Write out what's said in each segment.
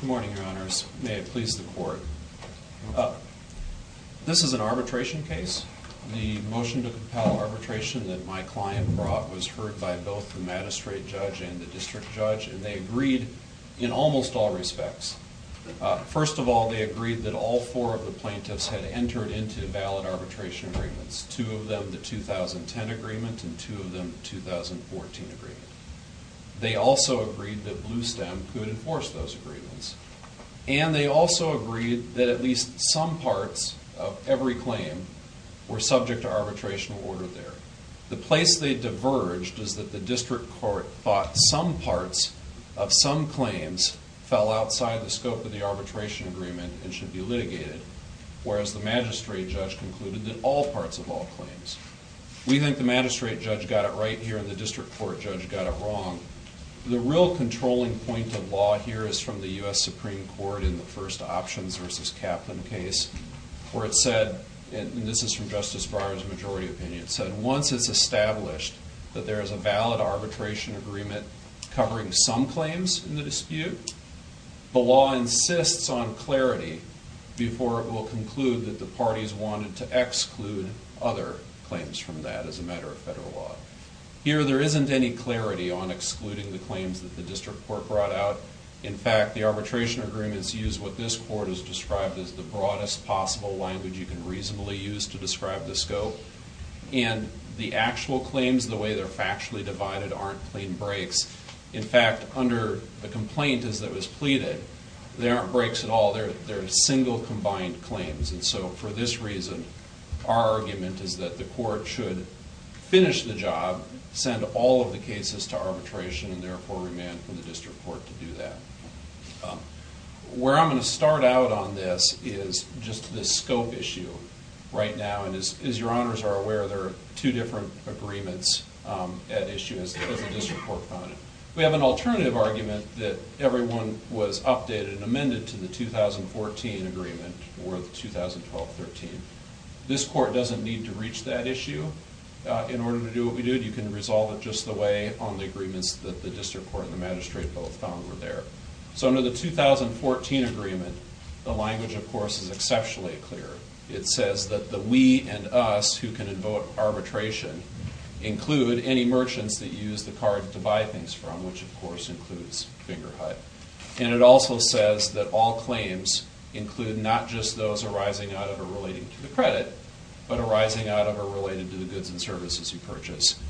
Good morning, Your Honors. May it please the Court. This is an arbitration case. The motion to compel arbitration that my client brought was heard by both the magistrate judge and the district judge, and they agreed in almost all respects. First of all, they agreed that all four of the plaintiffs had entered into valid arbitration agreements, two of them the 2010 agreement and two of them the 2014 agreement. They also agreed that Bluestem could enforce those agreements. And they also agreed that at least some parts of every claim were subject to arbitration order there. The place they diverged is that the district court thought some parts of some claims fell outside the scope of the arbitration agreement and should be litigated, whereas the magistrate judge concluded that all parts of all claims. We think the magistrate judge got it right here and the district court judge got it wrong. The real controlling point of law here is from the U.S. Supreme Court in the first Options v. Kaplan case, where it said, and this is from Justice Barham's majority opinion, it said once it's established that there is a valid arbitration agreement covering some claims in the dispute, the law insists on clarity before it will conclude that the parties wanted to exclude other claims from that as a matter of federal law. Here there isn't any clarity on excluding the claims that the district court brought out. In fact, the arbitration agreements use what this court has described as the broadest possible language you can reasonably use to describe the scope. And the actual claims, the way they're factually divided, aren't clean breaks. In fact, under the complaint that was pleaded, they aren't breaks at all. They're single combined claims. And so for this reason, our argument is that the court should finish the job, send all of the cases to arbitration, and therefore demand from the district court to do that. Where I'm going to start out on this is just this scope issue right now. And as your honors are aware, there are two different agreements at issue as the district court found it. We have an alternative argument that everyone was updated and amended to the 2014 agreement or the 2012-13. This court doesn't need to reach that issue in order to do what we did. You can resolve it just the way on the agreements that the district court and the magistrate both found were there. So under the 2014 agreement, the language, of course, is exceptionally clear. It says that the we and us who can invoke arbitration include any merchants that use the card to buy things from, which, of course, includes Fingerhut. And it also says that all claims include not just those arising out of or relating to the credit, but arising out of or related to the goods and services you purchase.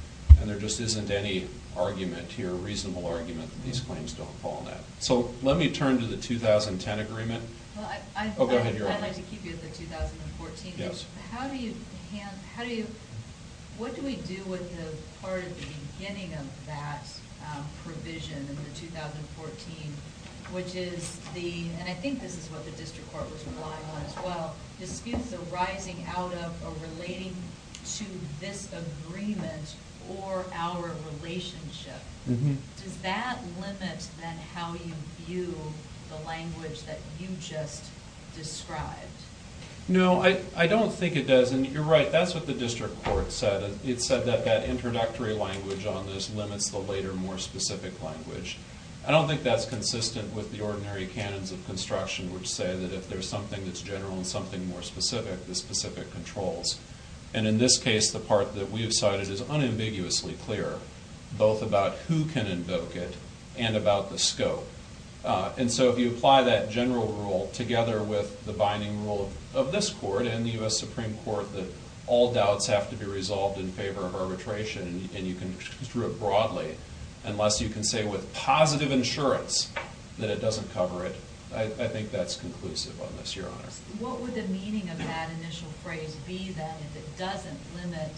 And there just isn't any argument here, reasonable argument, that these claims don't fall in that. So let me turn to the 2010 agreement. Oh, go ahead, your honors. I'd like to keep you at the 2014. Yes. What do we do with the part at the beginning of that provision in the 2014, which is the and I think this is what the district court was relying on as well, disputes arising out of or relating to this agreement or our relationship. Does that limit, then, how you view the language that you just described? No, I don't think it does. And you're right, that's what the district court said. It said that that introductory language on this limits the later, more specific language. I don't think that's consistent with the ordinary canons of construction, which say that if there's something that's general and something more specific, the specific controls. And in this case, the part that we have cited is unambiguously clear, both about who can invoke it and about the scope. And so if you apply that general rule together with the binding rule of this court and the U.S. Supreme Court that all doubts have to be resolved in favor of arbitration and you can construe it broadly, unless you can say with positive insurance that it doesn't cover it, I think that's conclusive on this, your honors. What would the meaning of that initial phrase be, then, if it doesn't limit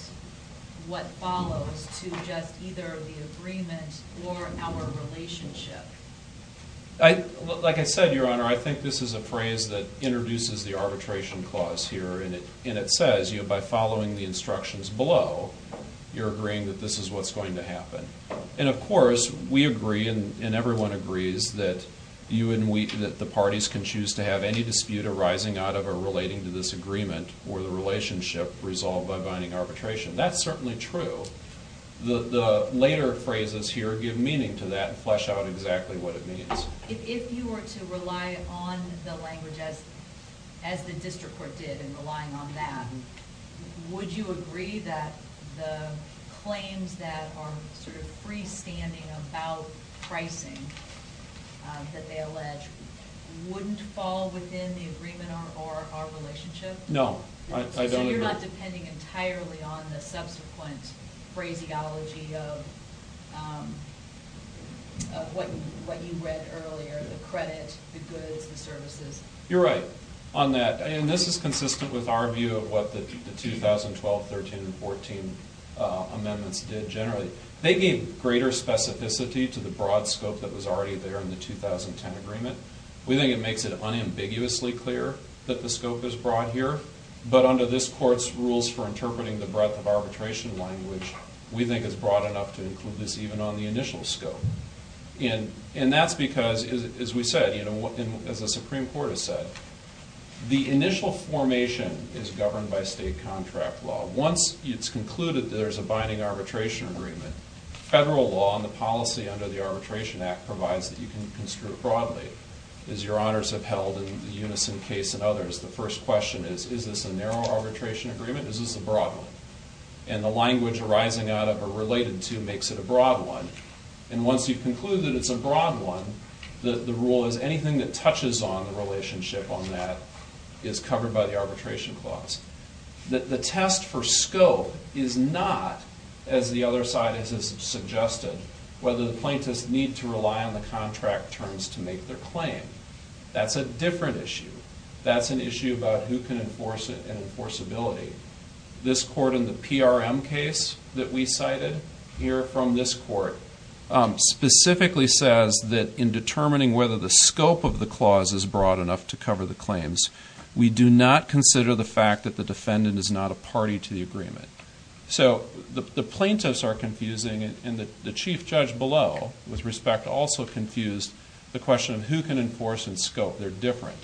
what follows to just either the agreement or our relationship? Like I said, your honor, I think this is a phrase that introduces the arbitration clause here. And it says, you know, by following the instructions below, you're agreeing that this is what's going to happen. And, of course, we agree, and everyone agrees, that the parties can choose to have any dispute arising out of or relating to this agreement or the relationship resolved by binding arbitration. That's certainly true. The later phrases here give meaning to that and flesh out exactly what it means. If you were to rely on the language as the district court did in relying on that, would you agree that the claims that are sort of freestanding about pricing that they allege wouldn't fall within the agreement or our relationship? No. So you're not depending entirely on the subsequent phraseology of what you read earlier, the credit, the goods, the services? You're right on that. And this is consistent with our view of what the 2012, 13, and 14 amendments did generally. They gave greater specificity to the broad scope that was already there in the 2010 agreement. We think it makes it unambiguously clear that the scope is broad here. But under this court's rules for interpreting the breadth of arbitration language, we think it's broad enough to include this even on the initial scope. And that's because, as we said, as the Supreme Court has said, the initial formation is governed by state contract law. Once it's concluded that there's a binding arbitration agreement, federal law and the policy under the Arbitration Act provides that you can construe it broadly. As your honors have held in the Unison case and others, the first question is, is this a narrow arbitration agreement or is this a broad one? And the language arising out of or related to makes it a broad one. And once you conclude that it's a broad one, the rule is anything that touches on the relationship on that is covered by the arbitration clause. The test for scope is not, as the other side has suggested, whether the plaintiffs need to rely on the contract terms to make their claim. That's a different issue. That's an issue about who can enforce it and enforceability. This court in the PRM case that we cited here from this court specifically says that in determining whether the scope of the clause is broad enough to cover the claims, we do not consider the fact that the defendant is not a party to the agreement. So the plaintiffs are confusing and the chief judge below, with respect, also confused the question of who can enforce and scope. They're different.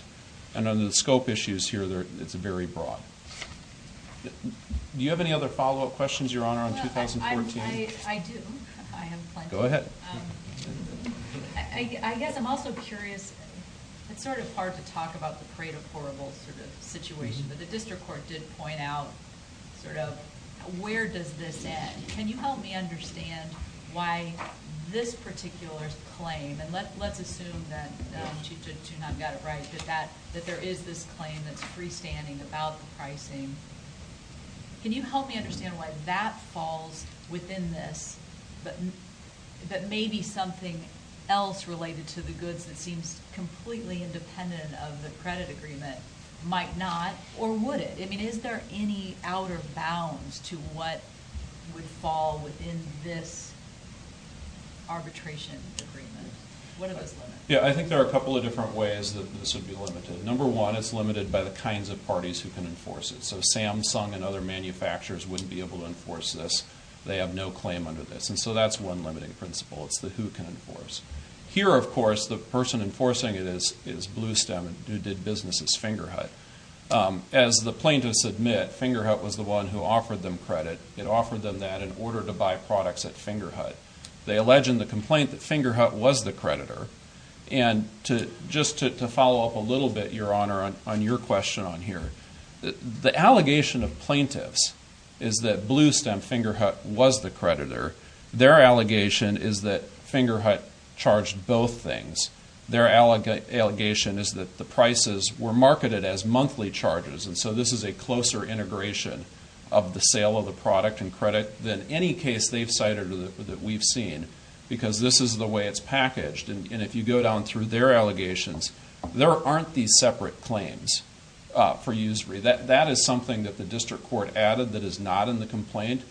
And under the scope issues here, it's very broad. Do you have any other follow-up questions, Your Honor, on 2014? I do. I have plenty. Go ahead. I guess I'm also curious. It's sort of hard to talk about the parade of horribles sort of situation, but the district court did point out sort of where does this end. Can you help me understand why this particular claim, and let's assume that Chief Judge Juneau got it right, that there is this claim that's freestanding about the pricing. Can you help me understand why that falls within this, but maybe something else related to the goods that seems completely independent of the credit agreement might not? Or would it? I mean, is there any outer bounds to what would fall within this arbitration agreement? What are those limits? Yeah, I think there are a couple of different ways that this would be limited. Number one, it's limited by the kinds of parties who can enforce it. So Samsung and other manufacturers wouldn't be able to enforce this. They have no claim under this. And so that's one limiting principle. It's the who can enforce. Here, of course, the person enforcing it is Bluestem, who did business as Fingerhut. As the plaintiffs admit, Fingerhut was the one who offered them credit. It offered them that in order to buy products at Fingerhut. They allege in the complaint that Fingerhut was the creditor. And just to follow up a little bit, Your Honor, on your question on here, the allegation of plaintiffs is that Bluestem, Fingerhut was the creditor. Their allegation is that Fingerhut charged both things. Their allegation is that the prices were marketed as monthly charges. And so this is a closer integration of the sale of the product and credit than any case they've cited or that we've seen. Because this is the way it's packaged. And if you go down through their allegations, there aren't these separate claims for usury. That is something that the district court added that is not in the complaint.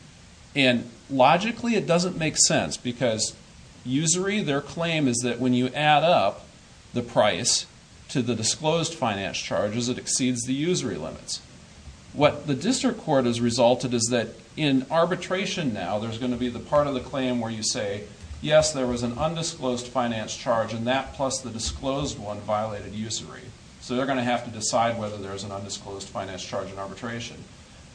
And logically, it doesn't make sense because usury, their claim is that when you add up the price to the disclosed finance charges, it exceeds the usury limits. What the district court has resulted is that in arbitration now, there's going to be the part of the claim where you say, yes, there was an undisclosed finance charge and that plus the disclosed one violated usury. So they're going to have to decide whether there's an undisclosed finance charge in arbitration.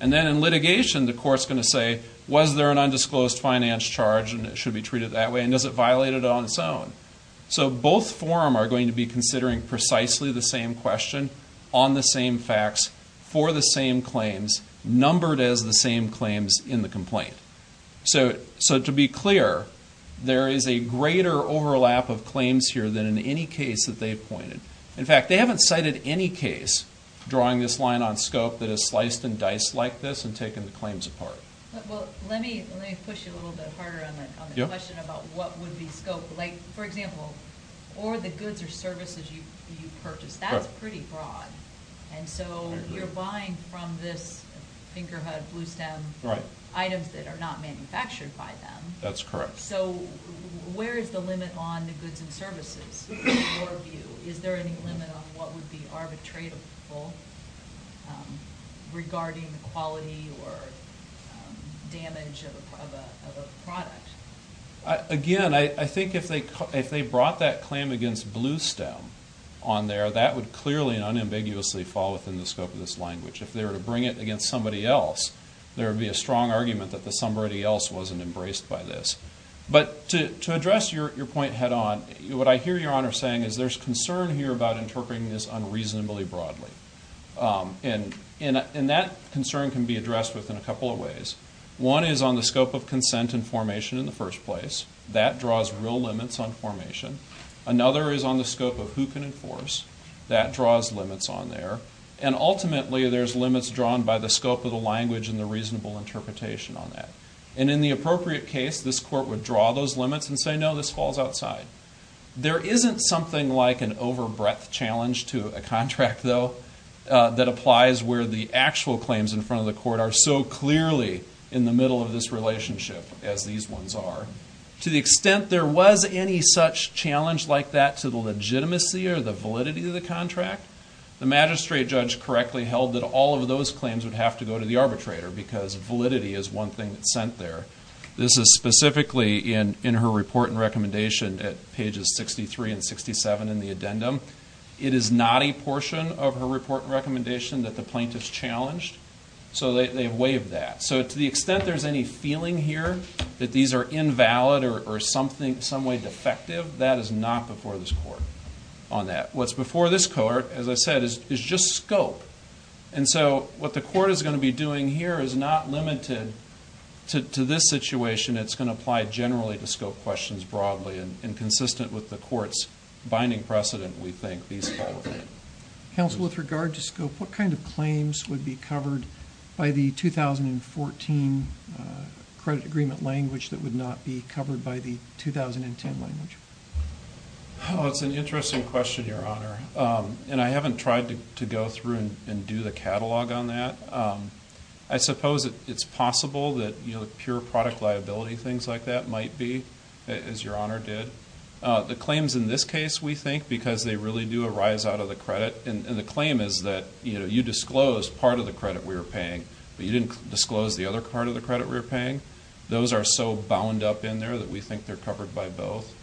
And then in litigation, the court's going to say, was there an undisclosed finance charge and it should be treated that way? And does it violate it on its own? So both forum are going to be considering precisely the same question, on the same facts, for the same claims, numbered as the same claims in the complaint. So to be clear, there is a greater overlap of claims here than in any case that they've pointed. In fact, they haven't cited any case drawing this line on scope that has sliced and diced like this and taken the claims apart. Well, let me push you a little bit harder on the question about what would be scope. Like, for example, or the goods or services you purchase, that's pretty broad. And so you're buying from this fingerhood, bluestem, items that are not manufactured by them. That's correct. So where is the limit on the goods and services in your view? Is there any limit on what would be arbitratable regarding the quality or damage of a product? Again, I think if they brought that claim against bluestem on there, that would clearly and unambiguously fall within the scope of this language. If they were to bring it against somebody else, there would be a strong argument that the somebody else wasn't embraced by this. But to address your point head on, what I hear Your Honor saying is there's concern here about interpreting this unreasonably broadly. And that concern can be addressed within a couple of ways. One is on the scope of consent and formation in the first place. That draws real limits on formation. Another is on the scope of who can enforce. That draws limits on there. And ultimately, there's limits drawn by the scope of the language and the reasonable interpretation on that. And in the appropriate case, this court would draw those limits and say, no, this falls outside. There isn't something like an overbreadth challenge to a contract, though, that applies where the actual claims in front of the court are so clearly in the middle of this relationship as these ones are. To the extent there was any such challenge like that to the legitimacy or the validity of the contract, the magistrate judge correctly held that all of those claims would have to go to the arbitrator because validity is one thing that's sent there. This is specifically in her report and recommendation at pages 63 and 67 in the addendum. It is not a portion of her report and recommendation that the plaintiff's challenged, so they waived that. So to the extent there's any feeling here that these are invalid or in some way defective, that is not before this court on that. What's before this court, as I said, is just scope. And so what the court is going to be doing here is not limited to this situation. It's going to apply generally to scope questions broadly and consistent with the court's binding precedent, we think, these fall within. Counsel, with regard to scope, what kind of claims would be covered by the 2014 credit agreement language that would not be covered by the 2010 language? It's an interesting question, Your Honor, and I haven't tried to go through and do the catalog on that. I suppose it's possible that pure product liability, things like that, might be, as Your Honor did. The claims in this case, we think, because they really do arise out of the credit, and the claim is that you disclosed part of the credit we were paying, but you didn't disclose the other part of the credit we were paying. Those are so bound up in there that we think they're covered by both.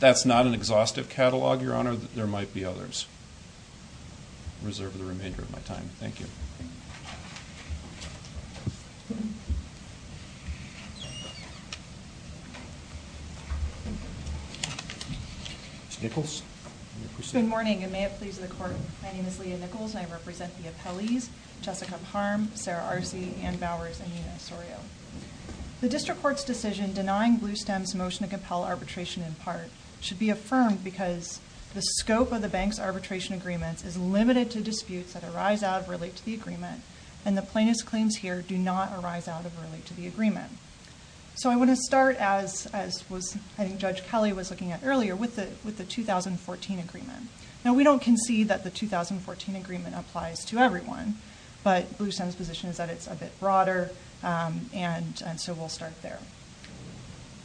That's not an exhaustive catalog, Your Honor. There might be others. I reserve the remainder of my time. Thank you. Ms. Nichols, will you proceed? Good morning, and may it please the Court. My name is Leah Nichols, and I represent the appellees, Jessica Parm, Sarah Arce, Anne Bowers, and Nina Sorio. The district court's decision denying Bluestem's motion to compel arbitration in part should be affirmed because the scope of the bank's arbitration agreements is limited to disputes that arise out of or relate to the agreement, and the plaintiff's claims here do not arise out of or relate to the agreement. I want to start, as I think Judge Kelly was looking at earlier, with the 2014 agreement. We don't concede that the 2014 agreement applies to everyone, but Bluestem's position is that it's a bit broader, and so we'll start there.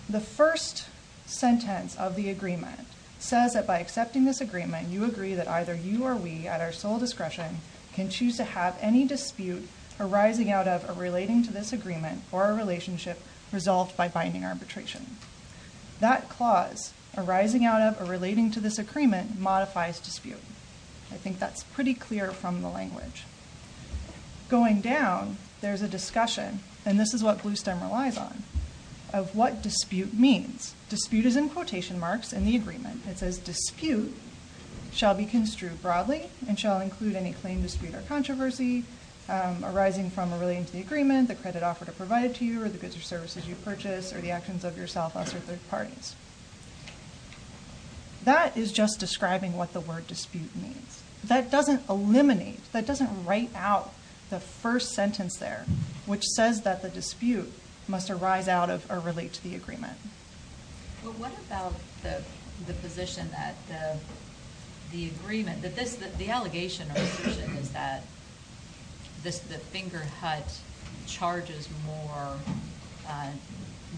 The first sentence of the agreement says that by accepting this agreement, you agree that either you or we, at our sole discretion, can choose to have any dispute arising out of or relating to this agreement or a relationship resolved by binding arbitration. That clause, arising out of or relating to this agreement, modifies dispute. I think that's pretty clear from the language. Going down, there's a discussion, and this is what Bluestem relies on, of what dispute means. Dispute is in quotation marks in the agreement. It says dispute shall be construed broadly and shall include any claim, dispute, or controversy arising from or relating to the agreement, the credit offered or provided to you, or the goods or services you purchase, or the actions of yourself, us, or third parties. That is just describing what the word dispute means. That doesn't eliminate, that doesn't write out the first sentence there, which says that the dispute must arise out of or relate to the agreement. What about the position that the agreement, the allegation or position, is that the Fingerhut charges more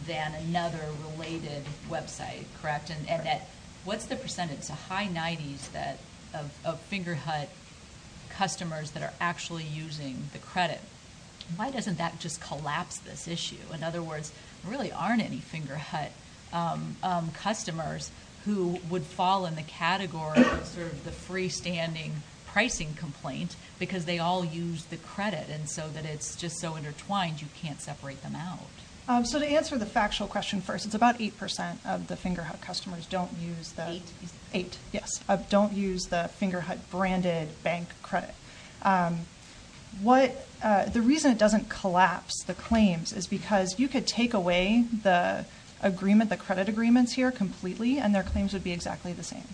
than another related website, correct? What's the percentage? It's a high 90s of Fingerhut customers that are actually using the credit. Why doesn't that just collapse this issue? In other words, there really aren't any Fingerhut customers who would fall in the category of the freestanding pricing complaint because they all use the credit, and so that it's just so intertwined you can't separate them out. To answer the factual question first, it's about 8% of the Fingerhut customers don't use the Fingerhut branded bank credit. The reason it doesn't collapse the claims is because you could take away the credit agreements here completely and their claims would be exactly the same.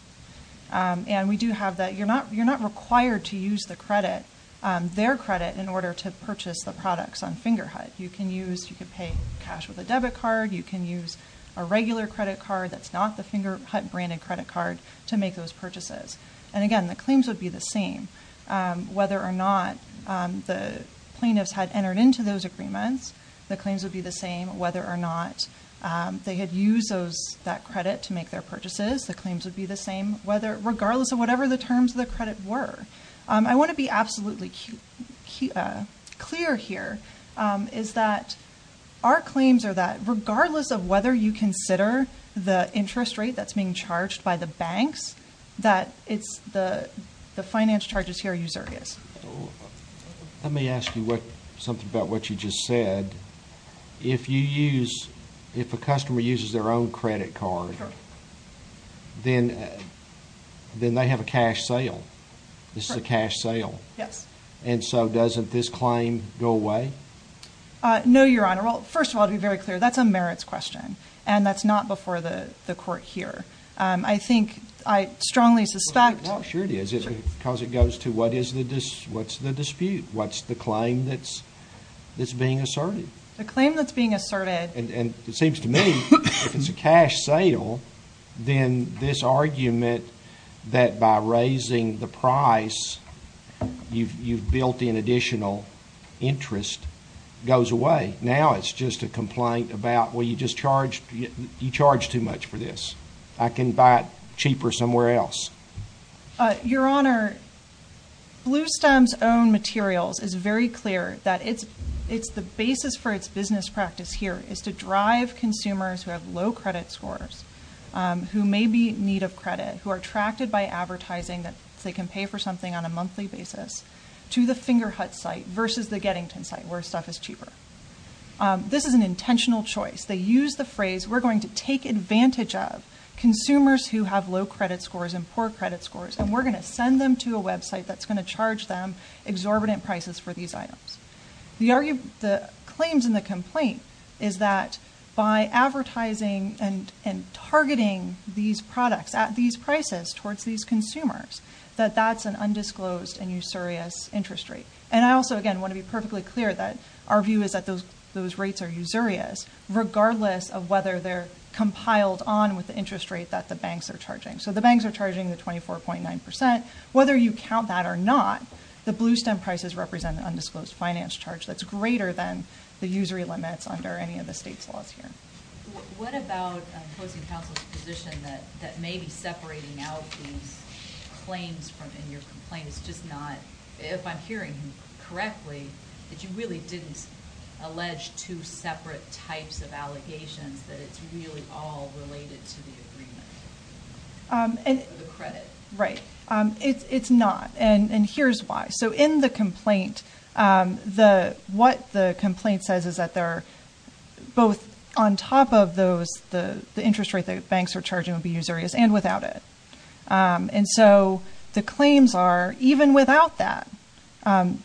We do have that. You're not required to use their credit in order to purchase the products on Fingerhut. You can pay cash with a debit card. You can use a regular credit card that's not the Fingerhut branded credit card to make those purchases. Again, the claims would be the same. Whether or not the plaintiffs had entered into those agreements, the claims would be the same. Whether or not they had used that credit to make their purchases, the claims would be the same, regardless of whatever the terms of the credit were. I want to be absolutely clear here, is that our claims are that regardless of whether you consider the interest rate that's being charged by the banks, that the finance charges here are usurious. Let me ask you something about what you just said. If a customer uses their own credit card, then they have a cash sale. This is a cash sale. Yes. And so doesn't this claim go away? No, Your Honor. Well, first of all, to be very clear, that's a merits question, and that's not before the court here. I think I strongly suspect— Well, sure it is, because it goes to what's the dispute? What's the claim that's being asserted? The claim that's being asserted— And it seems to me if it's a cash sale, then this argument that by raising the price, you've built in additional interest, goes away. Now it's just a complaint about, well, you just charged too much for this. I can buy it cheaper somewhere else. Your Honor, Bluestem's own materials is very clear that it's the basis for its business practice here is to drive consumers who have low credit scores, who may be in need of credit, who are attracted by advertising that they can pay for something on a monthly basis, to the Fingerhut site versus the Gettington site where stuff is cheaper. This is an intentional choice. They use the phrase, we're going to take advantage of consumers who have low credit scores and poor credit scores, and we're going to send them to a website that's going to charge them exorbitant prices for these items. The claims in the complaint is that by advertising and targeting these products at these prices towards these consumers, that that's an undisclosed and usurious interest rate. And I also, again, want to be perfectly clear that our view is that those rates are usurious, regardless of whether they're compiled on with the interest rate that the banks are charging. So the banks are charging the 24.9%. Whether you count that or not, the Bluestem prices represent an undisclosed finance charge that's greater than the usury limits under any of the state's laws here. What about opposing counsel's position that maybe separating out these claims in your complaint is just not, if I'm hearing you correctly, that you really didn't allege two separate types of allegations, that it's really all related to the agreement or the credit? Right. It's not. And here's why. So in the complaint, what the complaint says is that they're both on top of the interest rate that banks are charging would be usurious and without it. And so the claims are, even without that,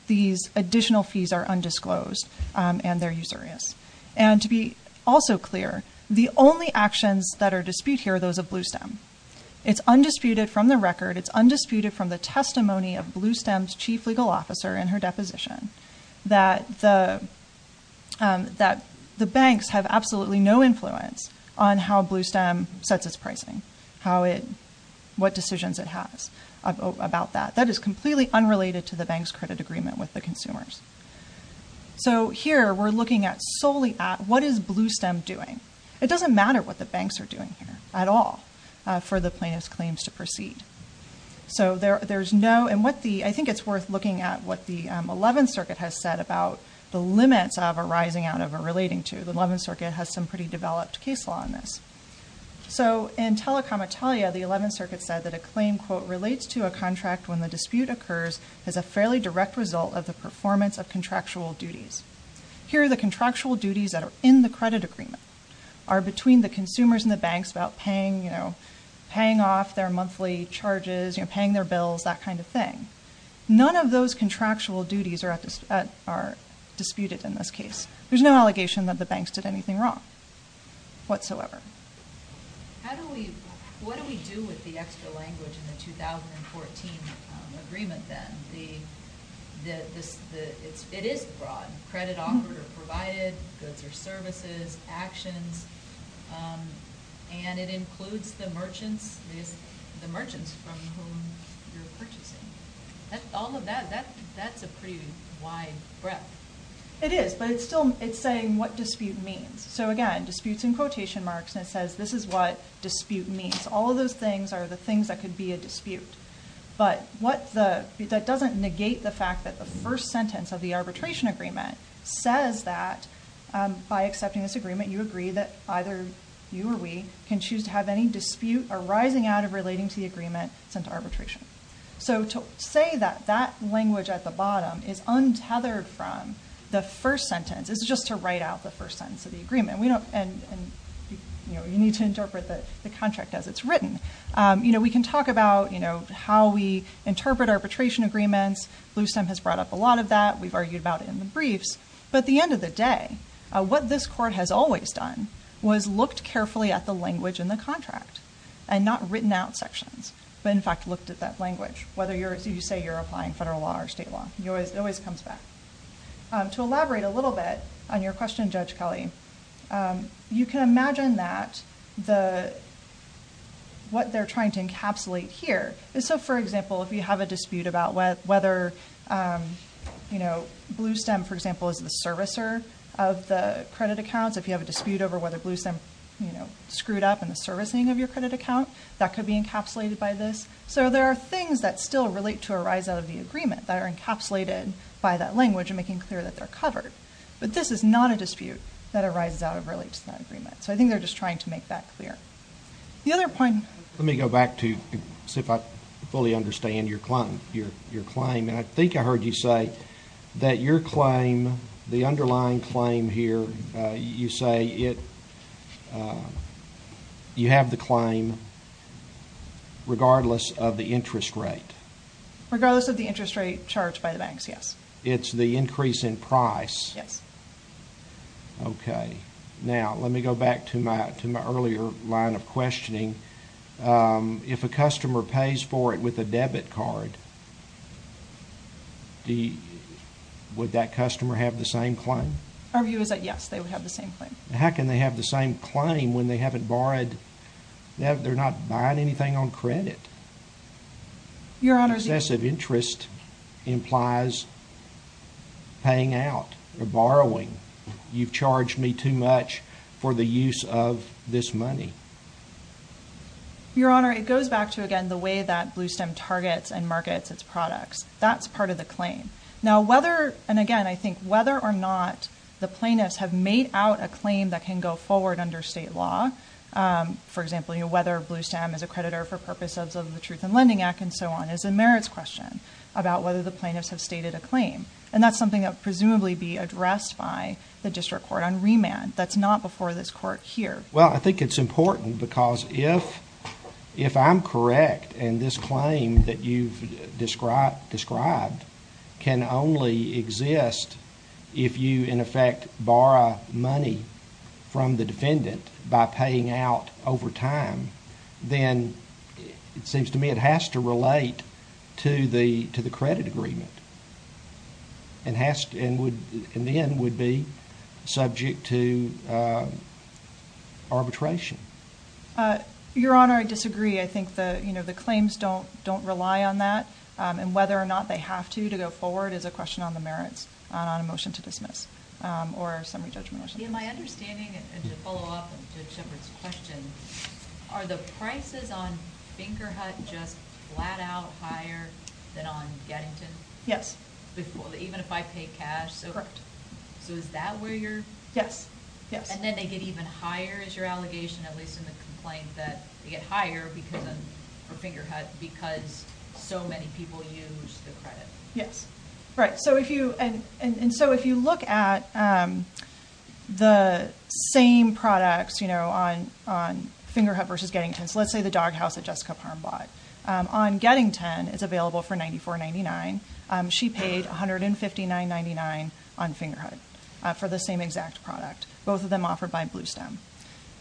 these additional fees are undisclosed and they're usurious. And to be also clear, the only actions that are disputed here are those of Bluestem. It's undisputed from the record. It's undisputed from the testimony of Bluestem's chief legal officer in her deposition that the banks have absolutely no influence on how Bluestem sets its pricing, what decisions it has about that. That is completely unrelated to the bank's credit agreement with the consumers. So here we're looking solely at what is Bluestem doing? It doesn't matter what the banks are doing here at all for the plaintiff's claims to proceed. I think it's worth looking at what the Eleventh Circuit has said about the limits of arising out of or relating to. The Eleventh Circuit has some pretty developed case law on this. So in telecom Italia, the Eleventh Circuit said that a claim, quote, relates to a contract when the dispute occurs as a fairly direct result of the performance of contractual duties. Here, the contractual duties that are in the credit agreement are between the consumers and the banks about paying off their monthly charges, paying their bills, that kind of thing. None of those contractual duties are disputed in this case. There's no allegation that the banks did anything wrong whatsoever. What do we do with the extra language in the 2014 agreement then? It is broad. Credit offered or provided, goods or services, actions, and it includes the merchants from whom you're purchasing. All of that, that's a pretty wide breadth. It is, but it's saying what dispute means. So again, disputes in quotation marks, and it says this is what dispute means. All of those things are the things that could be a dispute. But that doesn't negate the fact that the first sentence of the arbitration agreement says that by accepting this agreement, you agree that either you or we can choose to have any dispute arising out of relating to the agreement sent to arbitration. So to say that that language at the bottom is untethered from the first sentence is just to write out the first sentence of the agreement, and you need to interpret the contract as it's written. We can talk about how we interpret arbitration agreements. BlueStem has brought up a lot of that. We've argued about it in the briefs. But at the end of the day, what this court has always done was looked carefully at the language in the contract and not written out sections, but in fact looked at that language, whether you say you're applying federal law or state law. It always comes back. To elaborate a little bit on your question, Judge Kelly, you can imagine that what they're trying to encapsulate here is, so for example, if you have a dispute about whether BlueStem, for example, is the servicer of the credit accounts, if you have a dispute over whether BlueStem screwed up in the servicing of your credit account, that could be encapsulated by this. So there are things that still relate to arise out of the agreement that are encapsulated by that language and making clear that they're covered. But this is not a dispute that arises out of relating to that agreement. So I think they're just trying to make that clear. The other point – Let me go back to see if I fully understand your claim. I think I heard you say that your claim, the underlying claim here, you say you have the claim regardless of the interest rate. Regardless of the interest rate charged by the banks, yes. It's the increase in price. Yes. Okay. Now, let me go back to my earlier line of questioning. If a customer pays for it with a debit card, would that customer have the same claim? Our view is that, yes, they would have the same claim. How can they have the same claim when they haven't borrowed – they're not buying anything on credit? Your Honor – Excessive interest implies paying out or borrowing. You've charged me too much for the use of this money. Your Honor, it goes back to, again, the way that Bluestem targets and markets its products. That's part of the claim. Now, whether – and, again, I think whether or not the plaintiffs have made out a claim that can go forward under state law, for example, whether Bluestem is a creditor for purposes of the Truth in Lending Act and so on, is a merits question about whether the plaintiffs have stated a claim. And that's something that would presumably be addressed by the district court on remand. That's not before this court here. Well, I think it's important because if I'm correct and this claim that you've described can only exist if you, in effect, borrow money from the defendant by paying out over time, then it seems to me it has to relate to the credit agreement and then would be subject to arbitration. Your Honor, I disagree. I think the claims don't rely on that. And whether or not they have to go forward is a question on the merits on a motion to dismiss or a summary judgment motion. Yeah, my understanding, and to follow up to Shepherd's question, are the prices on Fingerhut just flat out higher than on Gettington? Yes. Even if I pay cash? Correct. So is that where you're – Yes, yes. And then they get even higher, is your allegation, at least in the complaint, that they get higher for Fingerhut because so many people use the credit? Yes. Right. And so if you look at the same products on Fingerhut versus Gettington, so let's say the doghouse that Jessica Parham bought, on Gettington it's available for $94.99. She paid $159.99 on Fingerhut for the same exact product, both of them offered by Bluestem.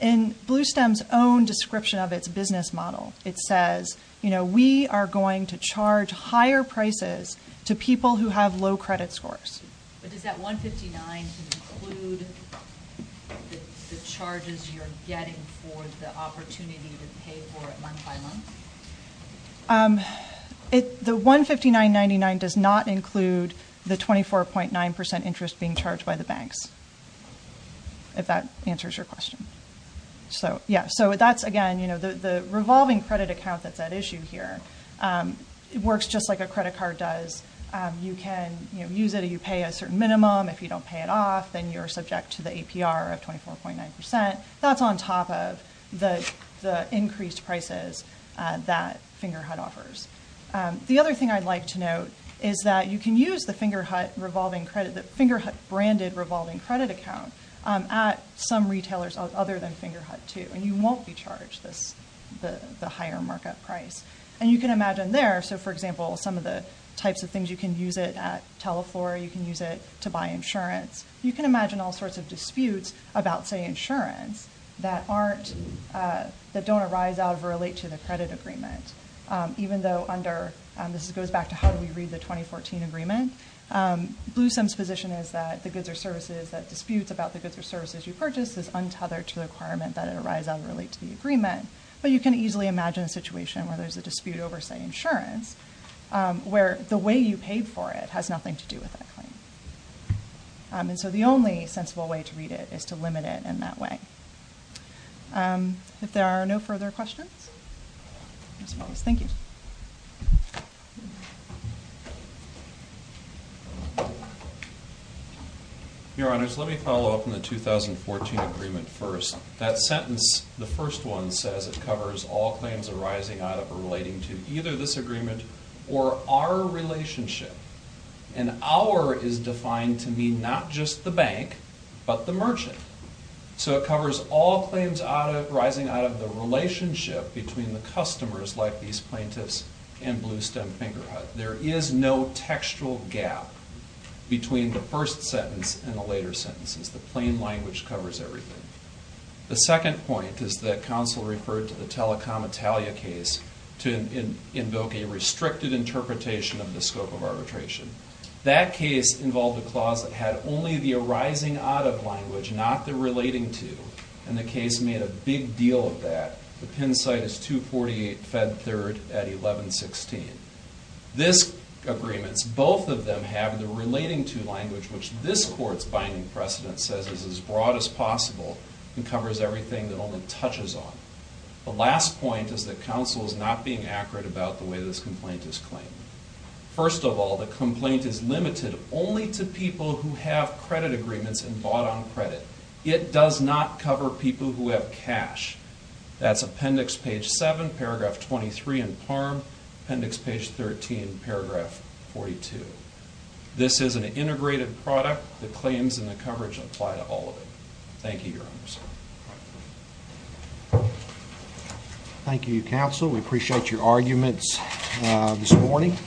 In Bluestem's own description of its business model, it says, you know, we are going to charge higher prices to people who have low credit scores. But does that $159.99 include the charges you're getting for the opportunity to pay for it month by month? The $159.99 does not include the 24.9% interest being charged by the banks, if that answers your question. So, yeah, so that's, again, you know, the revolving credit account that's at issue here. It works just like a credit card does. You can, you know, use it or you pay a certain minimum. If you don't pay it off, then you're subject to the APR of 24.9%. That's on top of the increased prices that Fingerhut offers. The other thing I'd like to note is that you can use the Fingerhut revolving credit, the Fingerhut branded revolving credit account at some retailers other than Fingerhut, too. And you won't be charged the higher markup price. And you can imagine there, so, for example, some of the types of things you can use it at Teleflora. You can use it to buy insurance. You can imagine all sorts of disputes about, say, insurance that aren't, that don't arise out of or relate to the credit agreement. Even though under, this goes back to how do we read the 2014 agreement, Bluesome's position is that the goods or services that disputes about the goods or services you purchase is untethered to the requirement that it arise out of or relate to the agreement. But you can easily imagine a situation where there's a dispute over, say, insurance, where the way you paid for it has nothing to do with that claim. And so the only sensible way to read it is to limit it in that way. If there are no further questions, I suppose. Thank you. Your Honors, let me follow up on the 2014 agreement first. That sentence, the first one, says it covers all claims arising out of or relating to either this agreement or our relationship. And our is defined to mean not just the bank, but the merchant. So it covers all claims arising out of the relationship between the customers like these plaintiffs and Bluestem Fingerhut. There is no textual gap between the first sentence and the later sentences. The plain language covers everything. The second point is that counsel referred to the Telecom Italia case to invoke a restricted interpretation of the scope of arbitration. That case involved a clause that had only the arising out of language, not the relating to. And the case made a big deal of that. The Penn site is 248 Fed Third at 1116. This agreement, both of them have the relating to language, which this court's binding precedent says is as broad as possible and covers everything that only touches on. The last point is that counsel is not being accurate about the way this complaint is claimed. First of all, the complaint is limited only to people who have credit agreements and bought on credit. It does not cover people who have cash. That's appendix page 7, paragraph 23 in PARM, appendix page 13, paragraph 42. This is an integrated product. The claims and the coverage apply to all of them. Thank you, Your Honors. Thank you, counsel. We appreciate your arguments this morning.